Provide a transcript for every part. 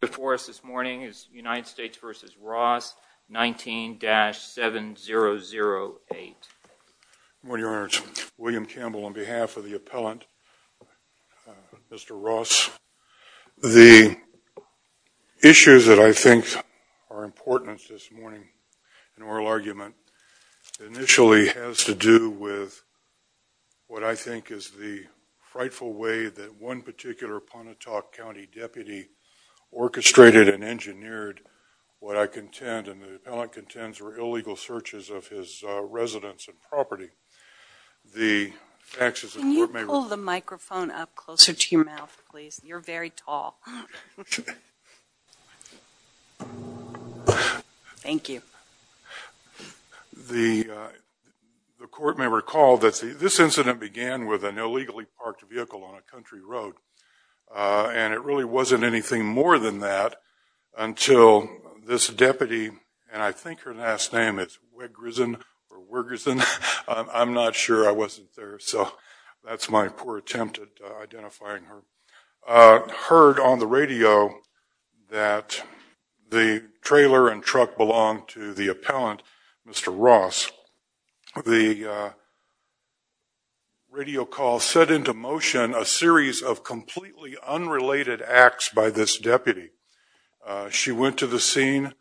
before us this morning is United States v. Ross, 19-7008. Good morning, Your Honors. William Campbell on behalf of the appellant, Mr. Ross. The issues that I think are important this morning in oral argument initially has to do with what I think is the frightful way that one particular Pontotoc County deputy orchestrated and engineered what I contend, and the appellant contends, were illegal searches of his residence and property. Can you pull the microphone up closer to your mouth, please? You're very tall. Thank you. The court may recall that this incident began with an illegally parked vehicle on a country more than that until this deputy, and I think her last name is Wiggerson, I'm not sure, I wasn't there, so that's my poor attempt at identifying her, heard on the radio that the trailer and truck belonged to the appellant, Mr. Ross. The radio call set into motion a series of completely unrelated acts by this deputy. She went to the scene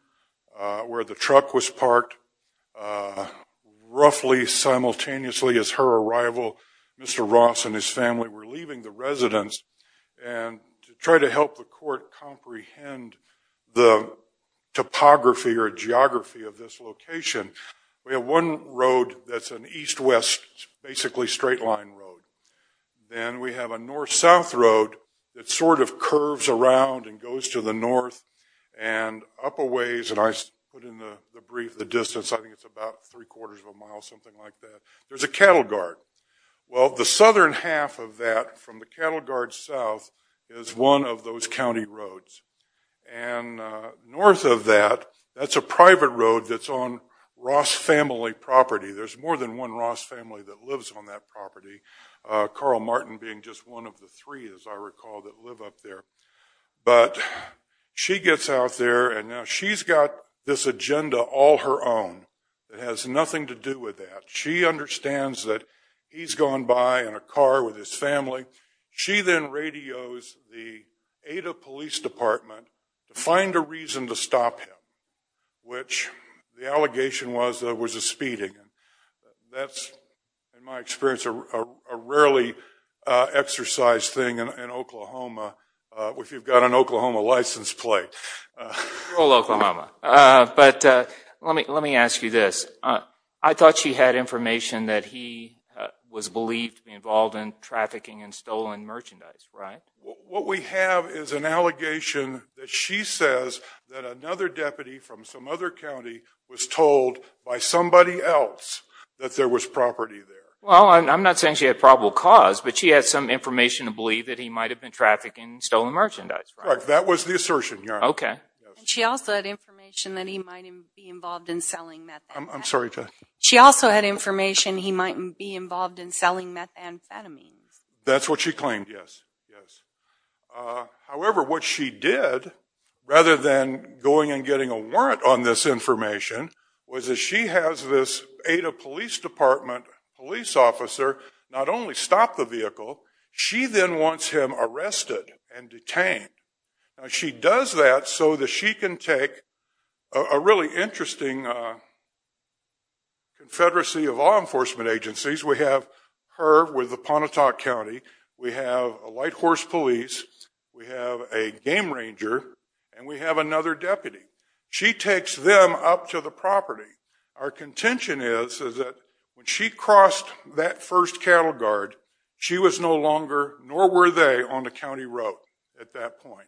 where the truck was parked. Roughly simultaneously as her arrival, Mr. Ross and his family were leaving the residence, and to try to help the court comprehend the topography or geography of this location, we have one road that's an east-west, basically straight line road. Then we have a north- south road that sort of curves around and goes to the north and up a ways, and I put in the brief the distance, I think it's about three-quarters of a mile, something like that. There's a cattle guard. Well, the southern half of that from the cattle guard south is one of those county roads, and north of that, that's a private road that's on Ross family property. There's more than one Ross family that lives on that property, Carl Martin being just one of the three, as I recall, that live up there. But she gets out there, and now she's got this agenda all her own. It has nothing to do with that. She understands that he's gone by in a car with his family. She then radios the Ada Police Department to find a reason to stop him, which the allegation was there was a speeding. That's, in my experience, a rarely exercised thing in Oklahoma, if you've got an Oklahoma license plate. But let me let me ask you this. I thought she had information that he was believed to be involved in trafficking and stolen merchandise, right? What we have is an allegation that she says that another deputy from some other county was told by somebody else that there was property there. Well, I'm not saying she had probable cause, but she had some information to believe that he might have been trafficking stolen merchandise. Right, that was the assertion, yeah. Okay. She also had information that he might be involved in selling methamphetamines. I'm sorry? She also had information he might be involved in selling methamphetamines. That's what she claimed, yes. However, what she did, rather than going and getting a warrant on this information, was that she has this Ada Police Department police officer not only stop the vehicle, she then wants him arrested and detained. She does that so that she can take a really agencies. We have her with the Pontotoc County. We have a white horse police. We have a game ranger, and we have another deputy. She takes them up to the property. Our contention is that when she crossed that first cattle guard, she was no longer, nor were they, on the county road at that point.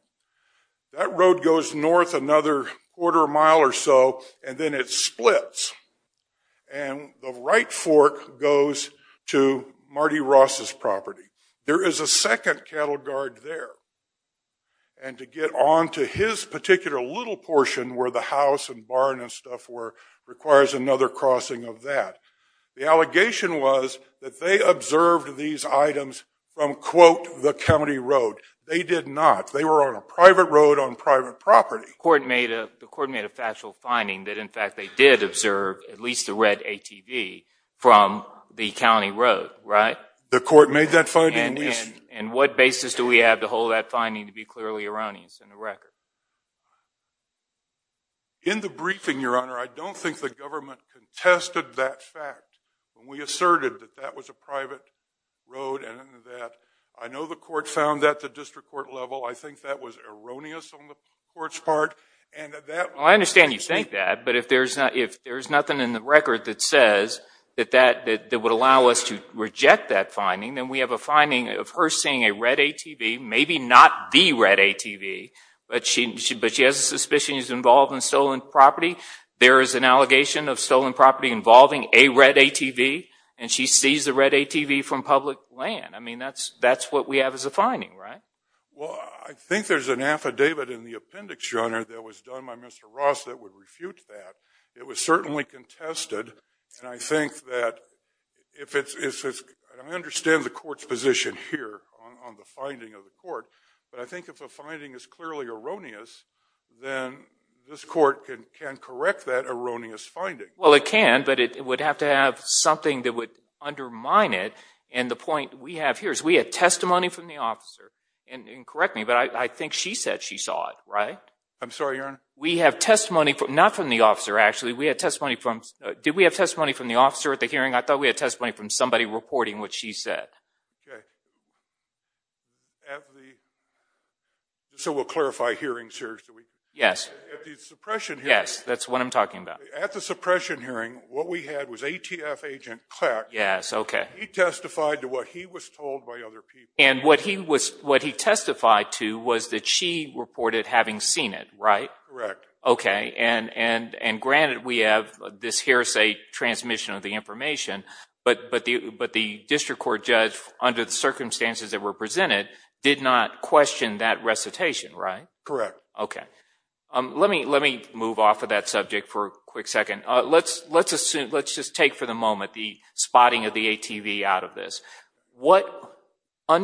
That road goes north another quarter mile or so, and then it splits, and the right fork goes to Marty Ross's property. There is a second cattle guard there, and to get on to his particular little portion where the house and barn and stuff were requires another crossing of that. The allegation was that they observed these items from quote, the county road. They did not. They were on a private road on private property. The court made a factual finding that in fact they did observe at least the red ATV from the county road, right? The court made that finding. And what basis do we have to hold that finding to be clearly erroneous in the record? In the briefing, your honor, I don't think the government contested that fact. We asserted that that was a private road, and that I know the court found that the district court level, I think that was erroneous on the court's part. I understand you think that, but if there's nothing in the record that says that would allow us to reject that finding, then we have a finding of her seeing a red ATV, maybe not the red ATV, but she has a suspicion she's involved in stolen property. There is an allegation of stolen property involving a red ATV, and she sees the red ATV from public land. I mean that's what we have as a finding, right? Well, I think there's an affidavit in the appendix, your honor, that was done by Mr. Ross that would refute that. It was certainly contested, and I think that if it's, I understand the court's position here on the finding of the court, but I think if the finding is clearly erroneous, then this court can correct that erroneous finding. Well, it can, but it would have to have something that would undermine it, and the point we have here is we had testimony from the officer, and correct me, but I think she said she saw it, right? I'm sorry, your honor? We have testimony from, not from the officer actually, we had testimony from, did we have testimony from the officer at the hearing? I thought we had testimony from somebody reporting what she said. Okay, so we'll clarify hearings here. Yes, yes, that's what I'm talking about. At the suppression hearing, what we had was ATF agent Clack. Yes, okay. He testified to what he was told by other people. And what he was, what he reported having seen it, right? Correct. Okay, and granted we have this hearsay transmission of the information, but the district court judge, under the circumstances that were presented, did not question that recitation, right? Correct. Okay, let me move off of that subject for a quick second. Let's just take for the moment the spotting of the I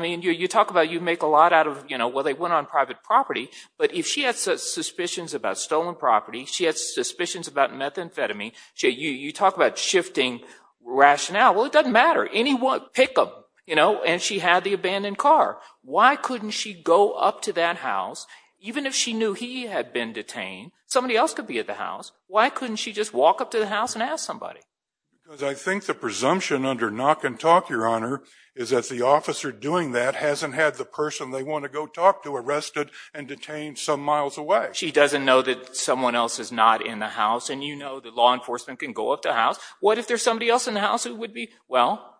mean, you talk about you make a lot out of, you know, well, they went on private property, but if she had suspicions about stolen property, she had suspicions about methamphetamine, you talk about shifting rationale, well, it doesn't matter. Anyone, pick them, you know, and she had the abandoned car. Why couldn't she go up to that house, even if she knew he had been detained? Somebody else could be at the house. Why couldn't she just walk up to the house and ask somebody? Because I think the testimony is that the officer doing that hasn't had the person they want to go talk to arrested and detained some miles away. She doesn't know that someone else is not in the house, and you know that law enforcement can go up to house. What if there's somebody else in the house who would be? Well,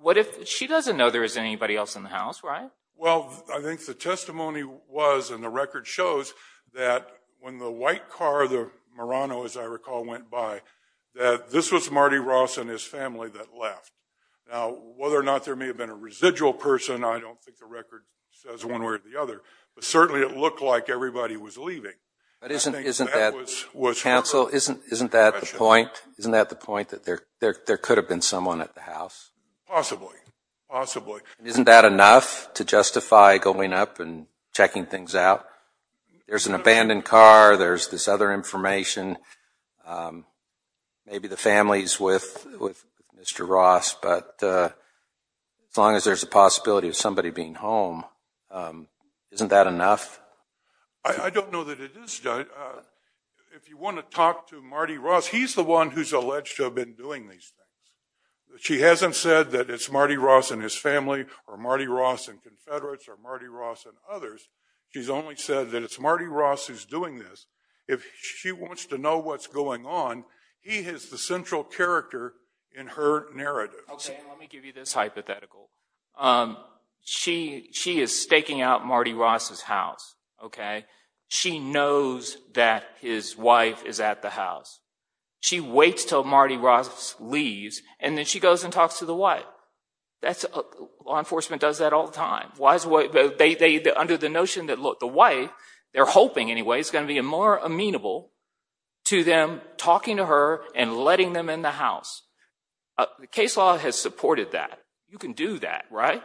what if she doesn't know there is anybody else in the house, right? Well, I think the testimony was, and the record shows, that when the white car, the Murano, as I recall, went by, that this was Marty Ross and his family that left. Now, whether or may have been a residual person, I don't think the record says one way or the other, but certainly it looked like everybody was leaving. But isn't, isn't that, counsel, isn't, isn't that the point? Isn't that the point that there there could have been someone at the house? Possibly, possibly. Isn't that enough to justify going up and checking things out? There's an abandoned car, there's this other information, maybe the family's with Mr. Ross, but as long as there's a possibility of somebody being home, isn't that enough? I don't know that it is. If you want to talk to Marty Ross, he's the one who's alleged to have been doing these things. She hasn't said that it's Marty Ross and his family, or Marty Ross and Confederates, or Marty Ross and others. She's only said that it's Marty Ross who's doing this. If she wants to know what's going on, he has the central character in her narrative. Okay, let me give you this hypothetical. She, she is staking out Marty Ross's house, okay? She knows that his wife is at the house. She waits till Marty Ross leaves, and then she goes and talks to the what? That's, law enforcement does that all the time. Why is what, they, they, under the notion that, look, the wife, they're hoping anyway, is going to be more amenable to them talking to her and letting them in the house. The case law has supported that. You can do that, right?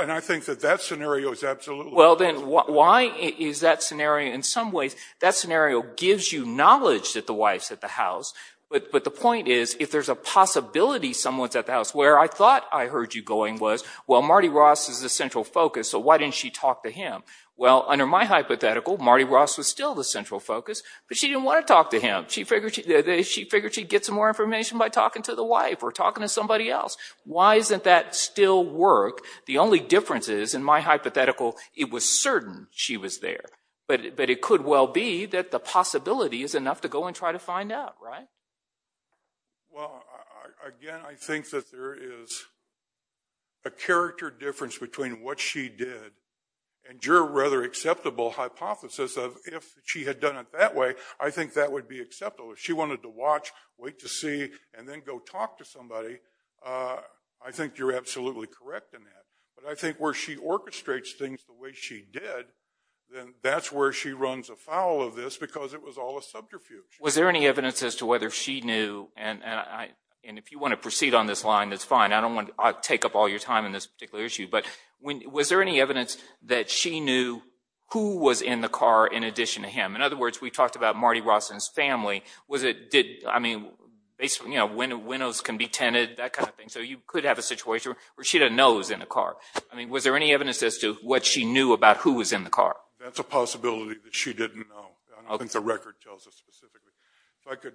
And I think that that scenario is absolutely... Well then, why is that scenario, in some ways, that scenario gives you knowledge that the wife's at the house, but, but the point is, if there's a possibility someone's at the house, where I thought I heard you going was, well, Marty Ross is the central focus, so why didn't she talk to him? Well, under my hypothetical, Marty Ross was still the central focus, but she didn't want to talk to him. She figured she, she figured she'd get some more information by talking to the wife or talking to somebody else. Why isn't that still work? The only difference is, in my hypothetical, it was certain she was there, but, but it could well be that the possibility is enough to go and try to find out, right? Well, again, I think that there is a character difference between what she did and your rather acceptable hypothesis of, if she had done it that way, I think that would be acceptable. If she wanted to watch, wait to see, and then go talk to somebody, I think you're absolutely correct in that, but I think where she orchestrates things the way she did, then that's where she runs afoul of this, because it was all a subterfuge. Was there any evidence as to whether she knew, and I, and if you want to proceed on this line, that's fine, I don't want to take up all your time in this particular issue, but when, was there any evidence that she knew who was in the car in addition to him? In other words, we talked about Marty Ross and his family, was it, did, I mean, basically, you know, windows can be tented, that kind of thing, so you could have a situation where she didn't know who was in the car. I mean, was there any evidence as to what she knew about who was in the car? That's a possibility that she didn't know. I think the record tells us specifically. If I could,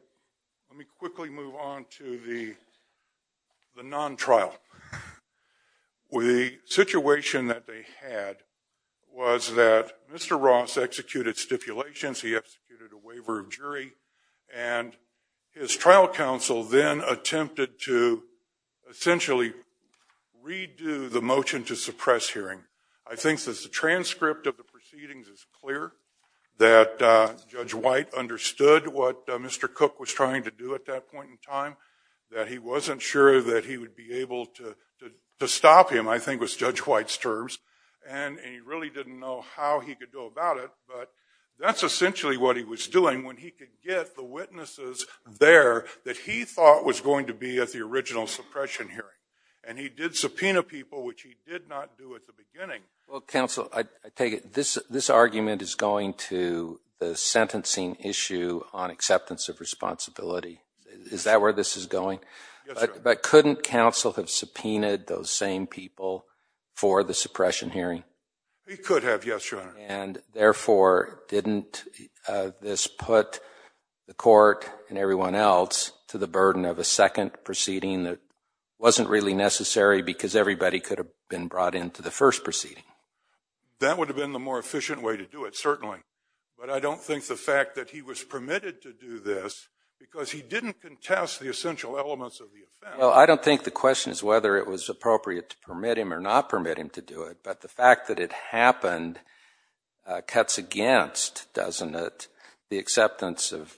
let me quickly move on to the non-trial. The situation that they had was that Mr. Ross executed stipulations, he executed a waiver of jury, and his trial counsel then attempted to essentially redo the motion to suppress hearing. I think that the transcript of proceedings is clear, that Judge White understood what Mr. Cook was trying to do at that point in time, that he wasn't sure that he would be able to stop him, I think was Judge White's terms, and he really didn't know how he could go about it, but that's essentially what he was doing when he could get the witnesses there that he thought was going to be at the original suppression hearing, and he did subpoena people, which he did not do at the beginning. Well, counsel, I take it this argument is going to the sentencing issue on acceptance of responsibility. Is that where this is going? But couldn't counsel have subpoenaed those same people for the suppression hearing? He could have, yes, your honor. And therefore, didn't this put the court and everyone else to the burden of a second proceeding that wasn't really necessary because everybody could have been brought into the first proceeding? That would have been the more efficient way to do it, certainly, but I don't think the fact that he was permitted to do this because he didn't contest the essential elements of the offense. Well, I don't think the question is whether it was appropriate to permit him or not permit him to do it, but the fact that it happened cuts against, doesn't it, the acceptance of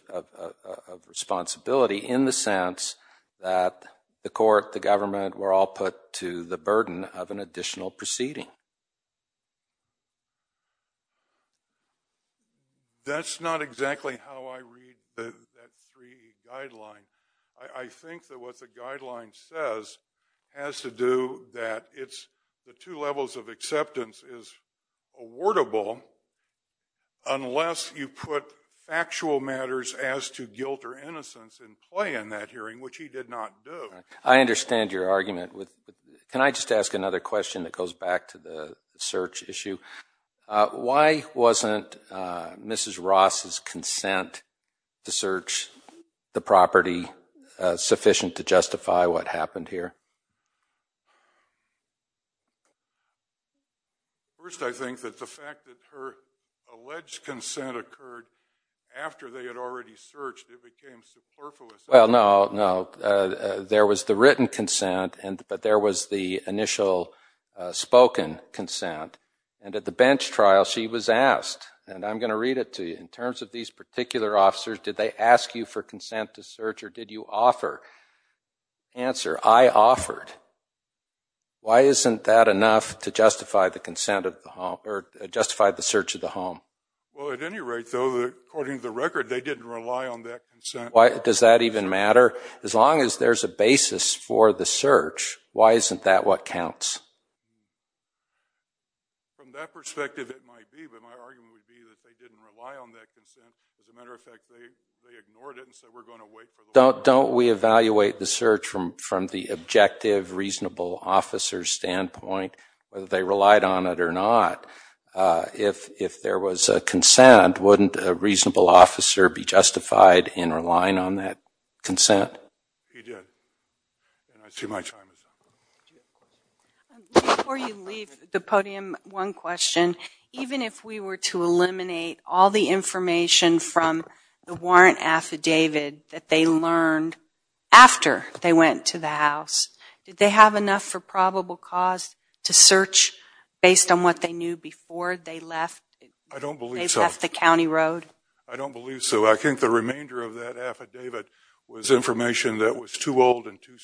responsibility in the sense that the court, the government, were all put to the burden of an additional proceeding? That's not exactly how I read that 3E guideline. I think that what the guideline says has to do that it's the two levels of acceptance is awardable unless you put factual matters as to guilt or innocence in play in that hearing, which he did not do. I understand your argument. Can I just ask another question that goes back to the search issue? Why wasn't Mrs. Ross's consent to search the property sufficient to justify what happened here? First, I think that the fact that her alleged consent occurred after they had already searched, it became superfluous. Well, no, no. There was the written consent, but there was the initial spoken consent, and at the bench trial she was asked, and I'm going to read it to you, in terms of these particular officers, did they ask you for consent to search or did you offer? Answer, I offered. Why isn't that enough to justify the consent of the home, or justify the search of the home? Well, at any rate, though, according to the record, they didn't rely on that consent. Why, does that even matter? As long as there's a basis for the search, why isn't that what counts? Don't we evaluate the search from the objective, reasonable officer's standpoint, whether they relied on it or not? If there was a consent, wouldn't a reasonable officer be justified in Before you leave the podium, one question. Even if we were to eliminate all the information from the warrant affidavit that they learned after they went to the house, did they have enough for probable cause to search based on what they knew before they left the county road? I don't believe so. I think the remainder of that affidavit was information that was too old and too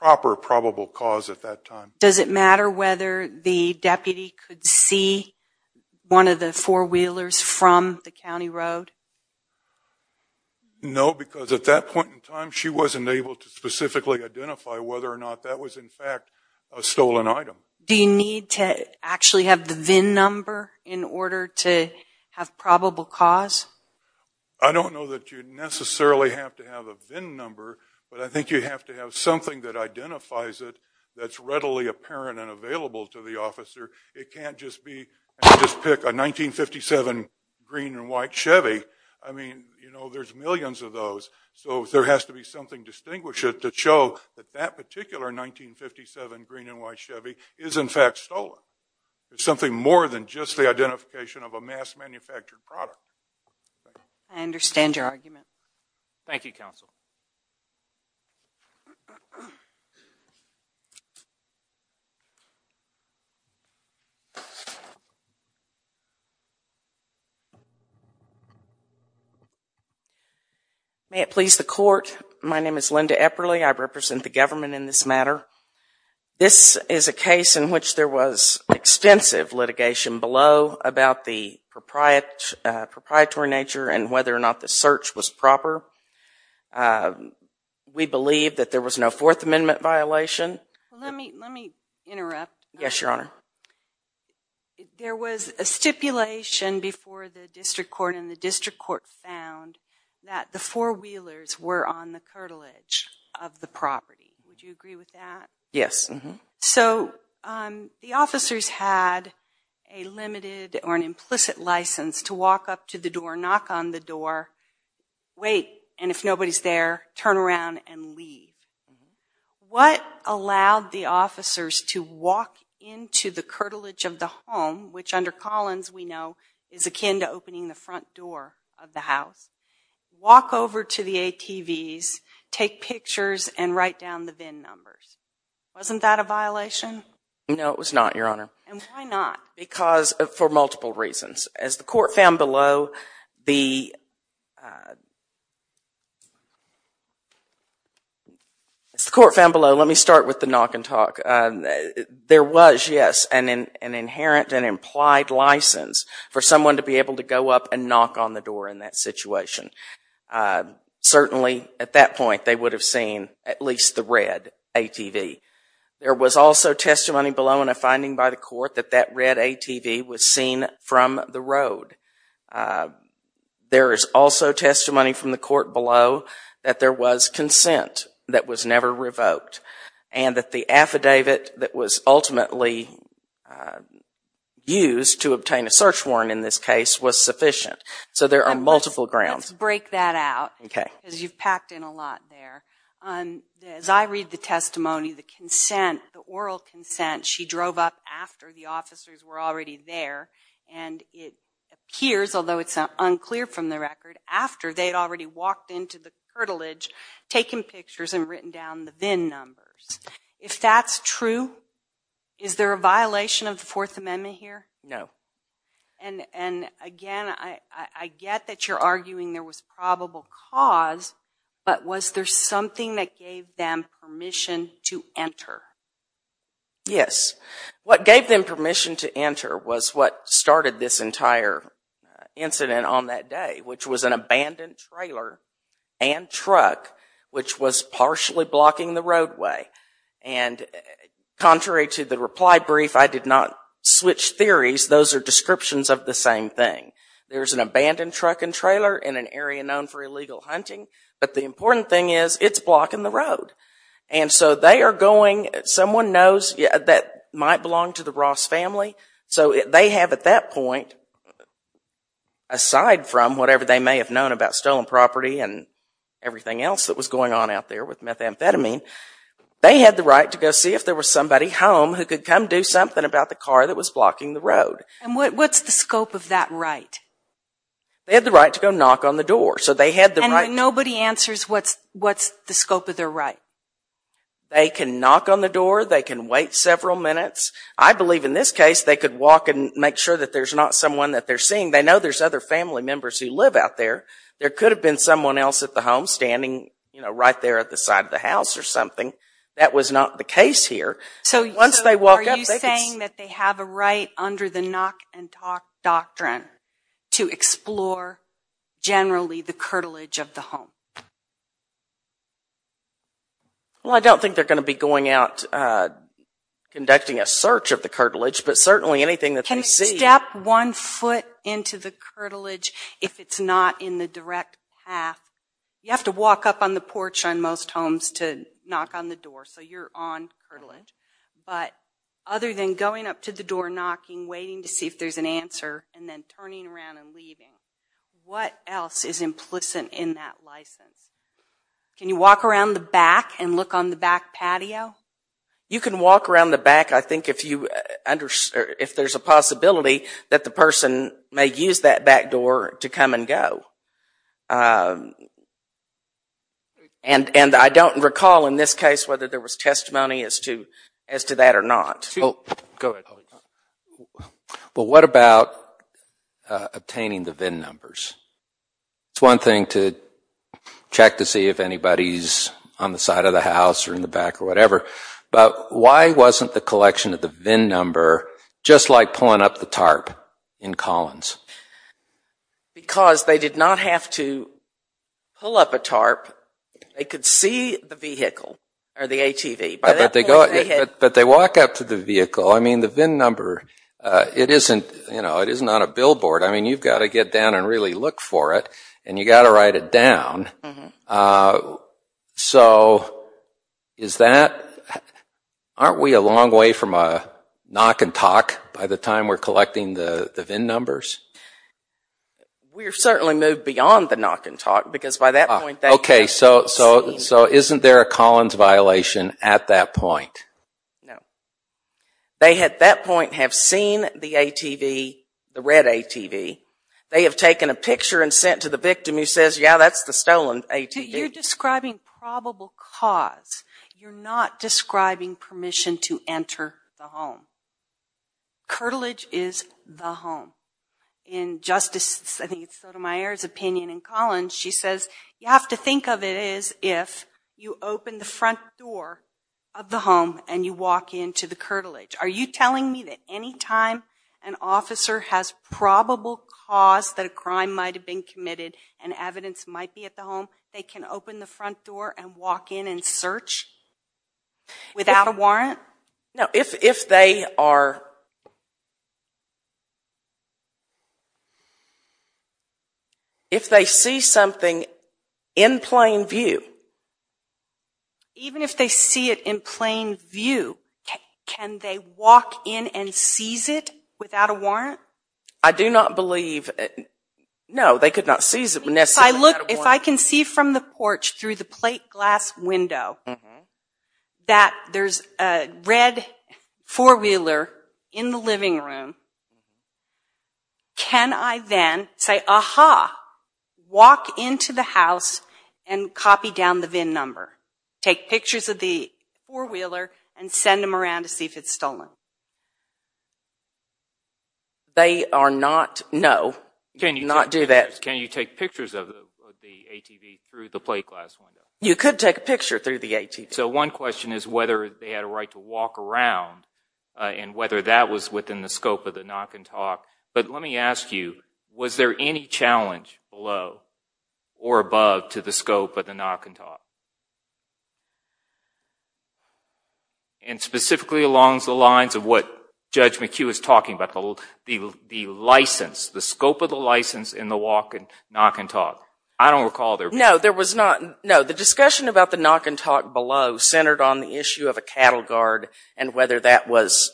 proper probable cause at that time. Does it matter whether the deputy could see one of the four-wheelers from the county road? No, because at that point in time she wasn't able to specifically identify whether or not that was in fact a stolen item. Do you need to actually have the VIN number in order to have probable cause? I don't know that you necessarily have to have a VIN number, but I think you have to have something that identifies it that's readily apparent and available to the officer. It can't just be just pick a 1957 green and white Chevy. I mean, you know, there's millions of those, so there has to be something distinguish it to show that that particular 1957 green and white Chevy is in fact stolen. There's something more than just the identification of a mass manufactured product. I understand your argument. Thank you, counsel. May it please the court, my name is Linda Epperle. I represent the government in this matter. This is a case in which there was extensive litigation below about the proprietary nature and whether or not the search was proper. We believe that there was no Fourth Amendment violation. Let me interrupt. Yes, your honor. There was a stipulation before the district court and the district court found that the four-wheelers were on the or an implicit license to walk up to the door, knock on the door, wait, and if nobody's there, turn around and leave. What allowed the officers to walk into the curtilage of the home, which under Collins we know is akin to opening the front door of the house, walk over to the ATVs, take pictures, and write down the VIN numbers? Wasn't that a violation? No, it was not, your honor. And why not? Because, for multiple reasons. As the court found below, let me start with the knock and talk. There was, yes, an inherent and implied license for someone to be able to go up and knock on the door in that situation. Certainly, at that point, they would have seen at least the red ATV. There was also testimony below in a finding by the court that that red ATV was seen from the road. There is also testimony from the court below that there was consent that was never revoked and that the affidavit that was ultimately used to obtain a search warrant in this case was sufficient. So there are multiple grounds. Let's break that out, because you've packed in a lot there. As I read the testimony, the oral consent, she drove up after the officers were already there, and it appears, although it's unclear from the record, after they had already walked into the curtilage, taken pictures, and written down the VIN numbers. If that's true, is there a violation of the Fourth Amendment here? No. And again, I get that you're arguing there was probable cause, but was there something that gave them permission to enter? Yes. What gave them permission to enter was what started this entire incident on that day, which was an abandoned trailer and truck which was partially blocking the roadway. And contrary to the reply brief, I did not switch theories. Those are descriptions of the same thing. There's an abandoned truck and trailer in an area known for illegal hunting, but the And so they are going, someone knows that might belong to the Ross family, so they have at that point, aside from whatever they may have known about stolen property and everything else that was going on out there with methamphetamine, they had the right to go see if there was somebody home who could come do something about the car that was blocking the road. And what's the scope of that right? They had the right to go knock on the door, so they had the right. But nobody answers what's the scope of their right. They can knock on the door, they can wait several minutes. I believe in this case they could walk and make sure that there's not someone that they're seeing. They know there's other family members who live out there. There could have been someone else at the home standing, you know, right there at the side of the house or something. That was not the case here. So once they walk up... Are you saying that they have a right under the knock-and-talk doctrine to explore generally the curtilage of the home? Well, I don't think they're going to be going out conducting a search of the curtilage, but certainly anything that they see... Can they step one foot into the curtilage if it's not in the direct path? You have to walk up on the porch on most homes to knock on the door, so you're on curtilage. But other than going up to the waiting to see if there's an answer and then turning around and leaving, what else is implicit in that license? Can you walk around the back and look on the back patio? You can walk around the back, I think, if there's a possibility that the person may use that back door to come and go. And I don't recall in this case whether there was testimony as to that or not. Well, what about obtaining the VIN numbers? It's one thing to check to see if anybody's on the side of the house or in the back or whatever, but why wasn't the collection of the VIN number just like pulling up the tarp in Collins? Because they did not have to pull up a tarp. They could see the vehicle or the ATV. But they walk up to the vehicle. I mean, the VIN number, it isn't, you know, it isn't on a billboard. I mean, you've got to get down and really look for it and you got to write it down. So, is that, aren't we a long way from a knock and talk by the time we're collecting the VIN numbers? We're certainly moved beyond the knock and talk because by that point... Okay, so isn't there a Collins violation at that point? No. They, at that point, have seen the ATV, the red ATV. They have taken a picture and sent to the victim who says, yeah, that's the stolen ATV. You're describing probable cause. You're not describing permission to enter the home. Curtilage is the home. In Justice Sotomayor's opinion in front door of the home and you walk into the curtilage. Are you telling me that any time an officer has probable cause that a crime might have been committed and evidence might be at the home, they can open the front door and walk in and search without a warrant? No, if they are, if they see something in plain view. Even if they see it in plain view, can they walk in and seize it without a warrant? I do not believe, no, they could not seize it. If I look, if I can see from the porch through the plate glass window that there's a red four-wheeler in the living room, can I then say, aha, walk into the house and copy down the VIN number, take pictures of the four-wheeler and send them around to see if it's stolen? They are not, no, cannot do that. Can you take pictures of the ATV through the plate glass window? You could take a picture through the ATV. So one question is whether they had a right to walk around and whether that was within the scope of the knock-and-talk, but let me ask you, was there any challenge below or above to the scope of the knock-and-talk, and specifically along the lines of what Judge McHugh is talking about, the license, the scope of the license in the walk and knock-and-talk. I don't recall No, there was not. No, the discussion about the knock-and-talk below centered on the issue of a cattle guard and whether that was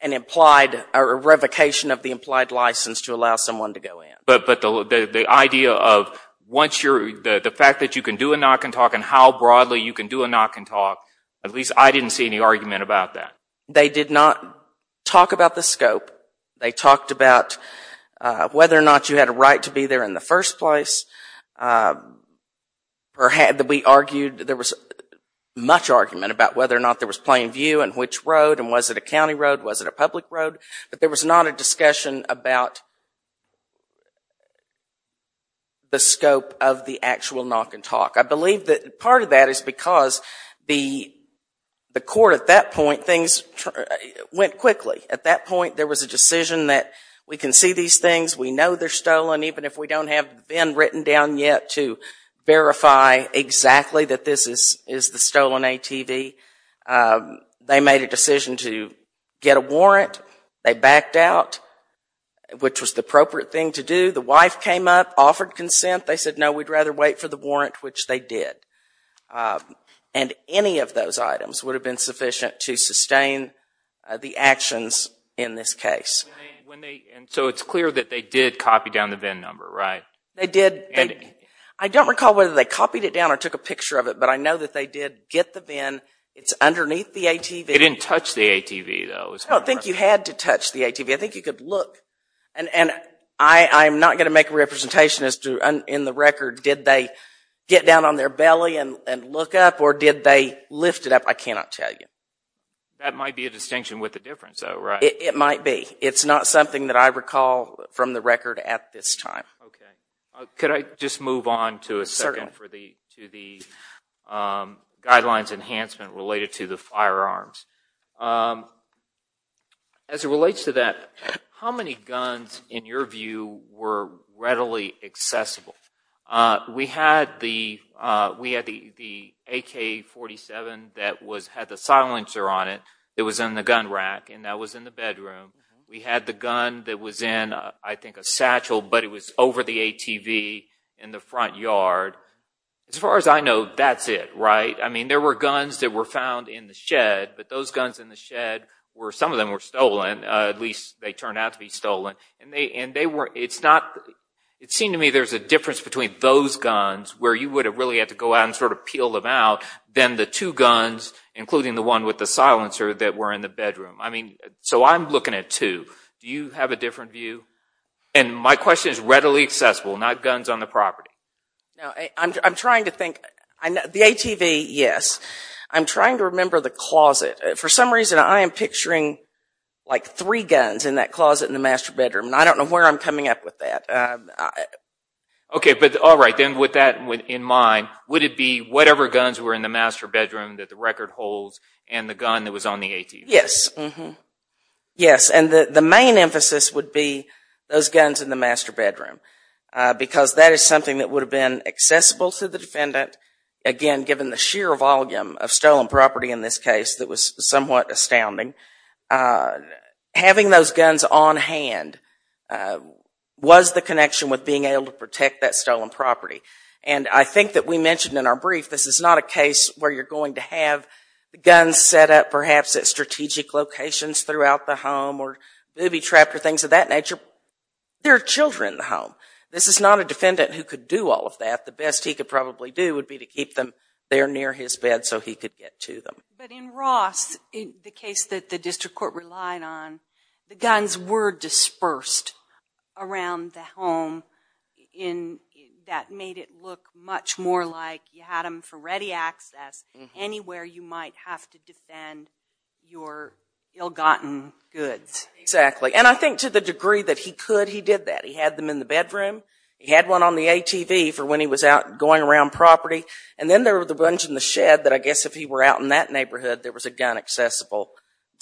an implied or a revocation of the implied license to allow someone to go in. But the idea of once you're, the fact that you can do a knock-and-talk and how broadly you can do a knock-and-talk, at least I didn't see any argument about that. They did not talk about the scope. They talked about whether or not you had a right to or had, that we argued, there was much argument about whether or not there was plain view and which road and was it a county road, was it a public road, but there was not a discussion about the scope of the actual knock-and-talk. I believe that part of that is because the court at that point, things went quickly. At that point there was a decision that we can see these things, we know they're stolen, even if we don't have been written down yet to verify exactly that this is the stolen ATV. They made a decision to get a warrant. They backed out, which was the appropriate thing to do. The wife came up, offered consent. They said, no, we'd rather wait for the warrant, which they did. And any of those items would have been sufficient to sustain the actions in this case. So it's clear that they did copy down the VIN number, right? They did. I don't recall whether they copied it down or took a picture of it, but I know that they did get the VIN. It's underneath the ATV. They didn't touch the ATV though? I don't think you had to touch the ATV. I think you could look. And I'm not going to make a representation as to, in the record, did they get down on their belly and look up or did they lift it up? I cannot tell you. That might be a distinction with the difference though, right? It might be. It's not something that I recall from the record at this time. Okay. Could I just move on to a second for the guidelines enhancement related to the firearms? As it relates to that, how many guns, in your view, were readily accessible? We had the AK-47 that had the silencer on it. It was in the gun rack and that was in the bedroom. We had the gun that was in, I think, a satchel, but it was over the ATV in the front yard. As far as I know, that's it, right? I mean, there were guns that were found in the shed, but those guns in the shed were, some of them were stolen, at least they turned out to be stolen. And they were, it's not, it would have really had to go out and sort of peel them out, then the two guns, including the one with the silencer, that were in the bedroom. I mean, so I'm looking at two. Do you have a different view? And my question is readily accessible, not guns on the property. I'm trying to think. The ATV, yes. I'm trying to remember the closet. For some reason, I am picturing like three guns in that closet in the master bedroom and I don't know where I'm coming up with that. Okay, but all right, then with that in mind, would it be whatever guns were in the master bedroom that the record holds and the gun that was on the ATV? Yes, mm-hmm. Yes, and the main emphasis would be those guns in the master bedroom because that is something that would have been accessible to the defendant, again, given the sheer volume of stolen property in this case that was somewhat astounding. Having those guns on hand was the connection with being able to protect that stolen property. And I think that we mentioned in our brief, this is not a case where you're going to have the guns set up perhaps at strategic locations throughout the home or maybe trapped or things of that nature. There are children in the home. This is not a defendant who could do all of that. The best he could probably do would be to keep them there near his bed so he could get to them. But in Ross, the case that the district court relied on, the guns were dispersed around the home. That made it look much more like you had them for ready access anywhere you might have to defend your ill-gotten goods. Exactly, and I think to the degree that he could, he did that. He had them in the bedroom. He had one on the ATV for when he was out going around property. And then there were the shed that I guess if he were out in that neighborhood, there was a gun accessible.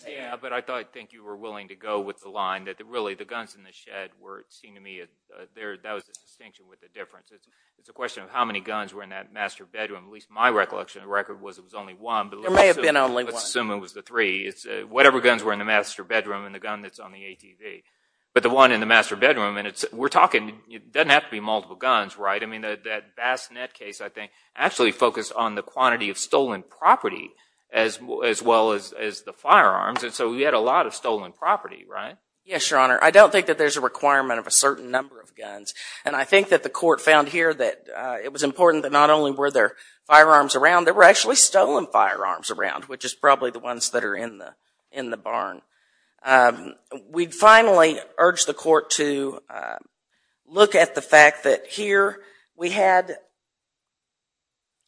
Yeah, but I thought I think you were willing to go with the line that really the guns in the shed were, it seemed to me, that was the distinction with the difference. It's a question of how many guns were in that master bedroom. At least my recollection of the record was it was only one. There may have been only one. Let's assume it was the three. It's whatever guns were in the master bedroom and the gun that's on the ATV. But the one in the master bedroom, and it's, we're talking, it doesn't have to be multiple guns, right? I mean that Bass in that case, I think, actually focused on the quantity of stolen property as well as the firearms. And so we had a lot of stolen property, right? Yes, your Honor. I don't think that there's a requirement of a certain number of guns. And I think that the court found here that it was important that not only were there firearms around, there were actually stolen firearms around, which is probably the ones that are in the in the barn. We'd finally urge the court to look at the fact that here we had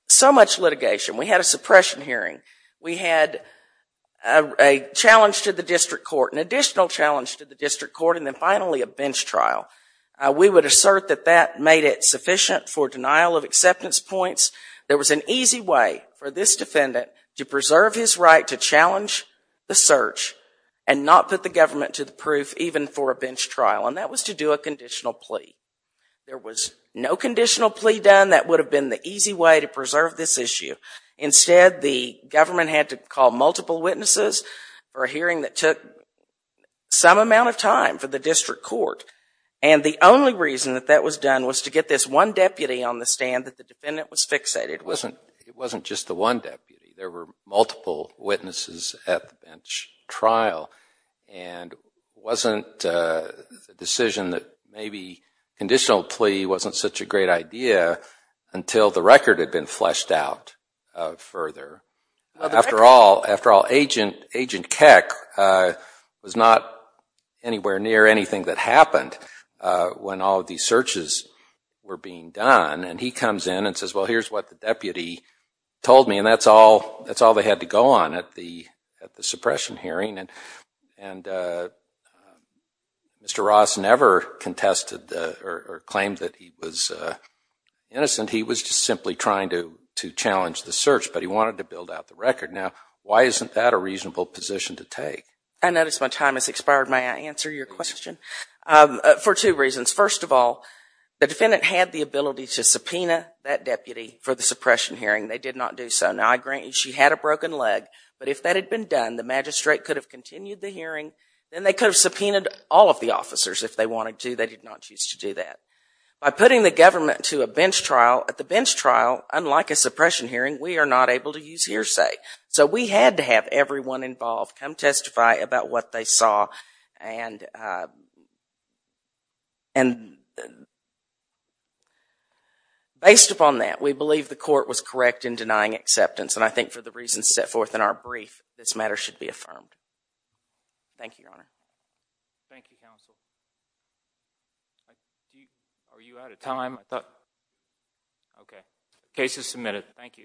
so much litigation. We had a suppression hearing. We had a challenge to the district court, an additional challenge to the district court, and then finally a bench trial. We would assert that that made it sufficient for denial of acceptance points. There was an easy way for this defendant to preserve his right to challenge the search and not put the government to the There was no conditional plea done that would have been the easy way to preserve this issue. Instead, the government had to call multiple witnesses for a hearing that took some amount of time for the district court. And the only reason that that was done was to get this one deputy on the stand that the defendant was fixated with. It wasn't just the one deputy. There were multiple witnesses at the bench trial, and it wasn't a decision that maybe conditional plea wasn't such a great idea until the record had been fleshed out further. After all, Agent Keck was not anywhere near anything that happened when all of these searches were being done, and he comes in and says, well, here's what the suppression hearing, and Mr. Ross never contested or claimed that he was innocent. He was just simply trying to to challenge the search, but he wanted to build out the record. Now, why isn't that a reasonable position to take? I notice my time has expired. May I answer your question? For two reasons. First of all, the defendant had the ability to subpoena that deputy for the suppression hearing. They did not do so. Now, I grant you she had a broken leg, but if that had been done, the magistrate could have continued the hearing, then they could have subpoenaed all of the officers if they wanted to. They did not choose to do that. By putting the government to a bench trial, at the bench trial, unlike a suppression hearing, we are not able to use hearsay. So we had to have everyone involved come testify about what they saw, and based upon that, we believe the court was correct in denying acceptance, and I think for the reasons set forth in our brief, this matter should be affirmed. Thank you, Your Honor. Thank you, counsel. Are you out of time? Okay. Case is submitted. Thank you.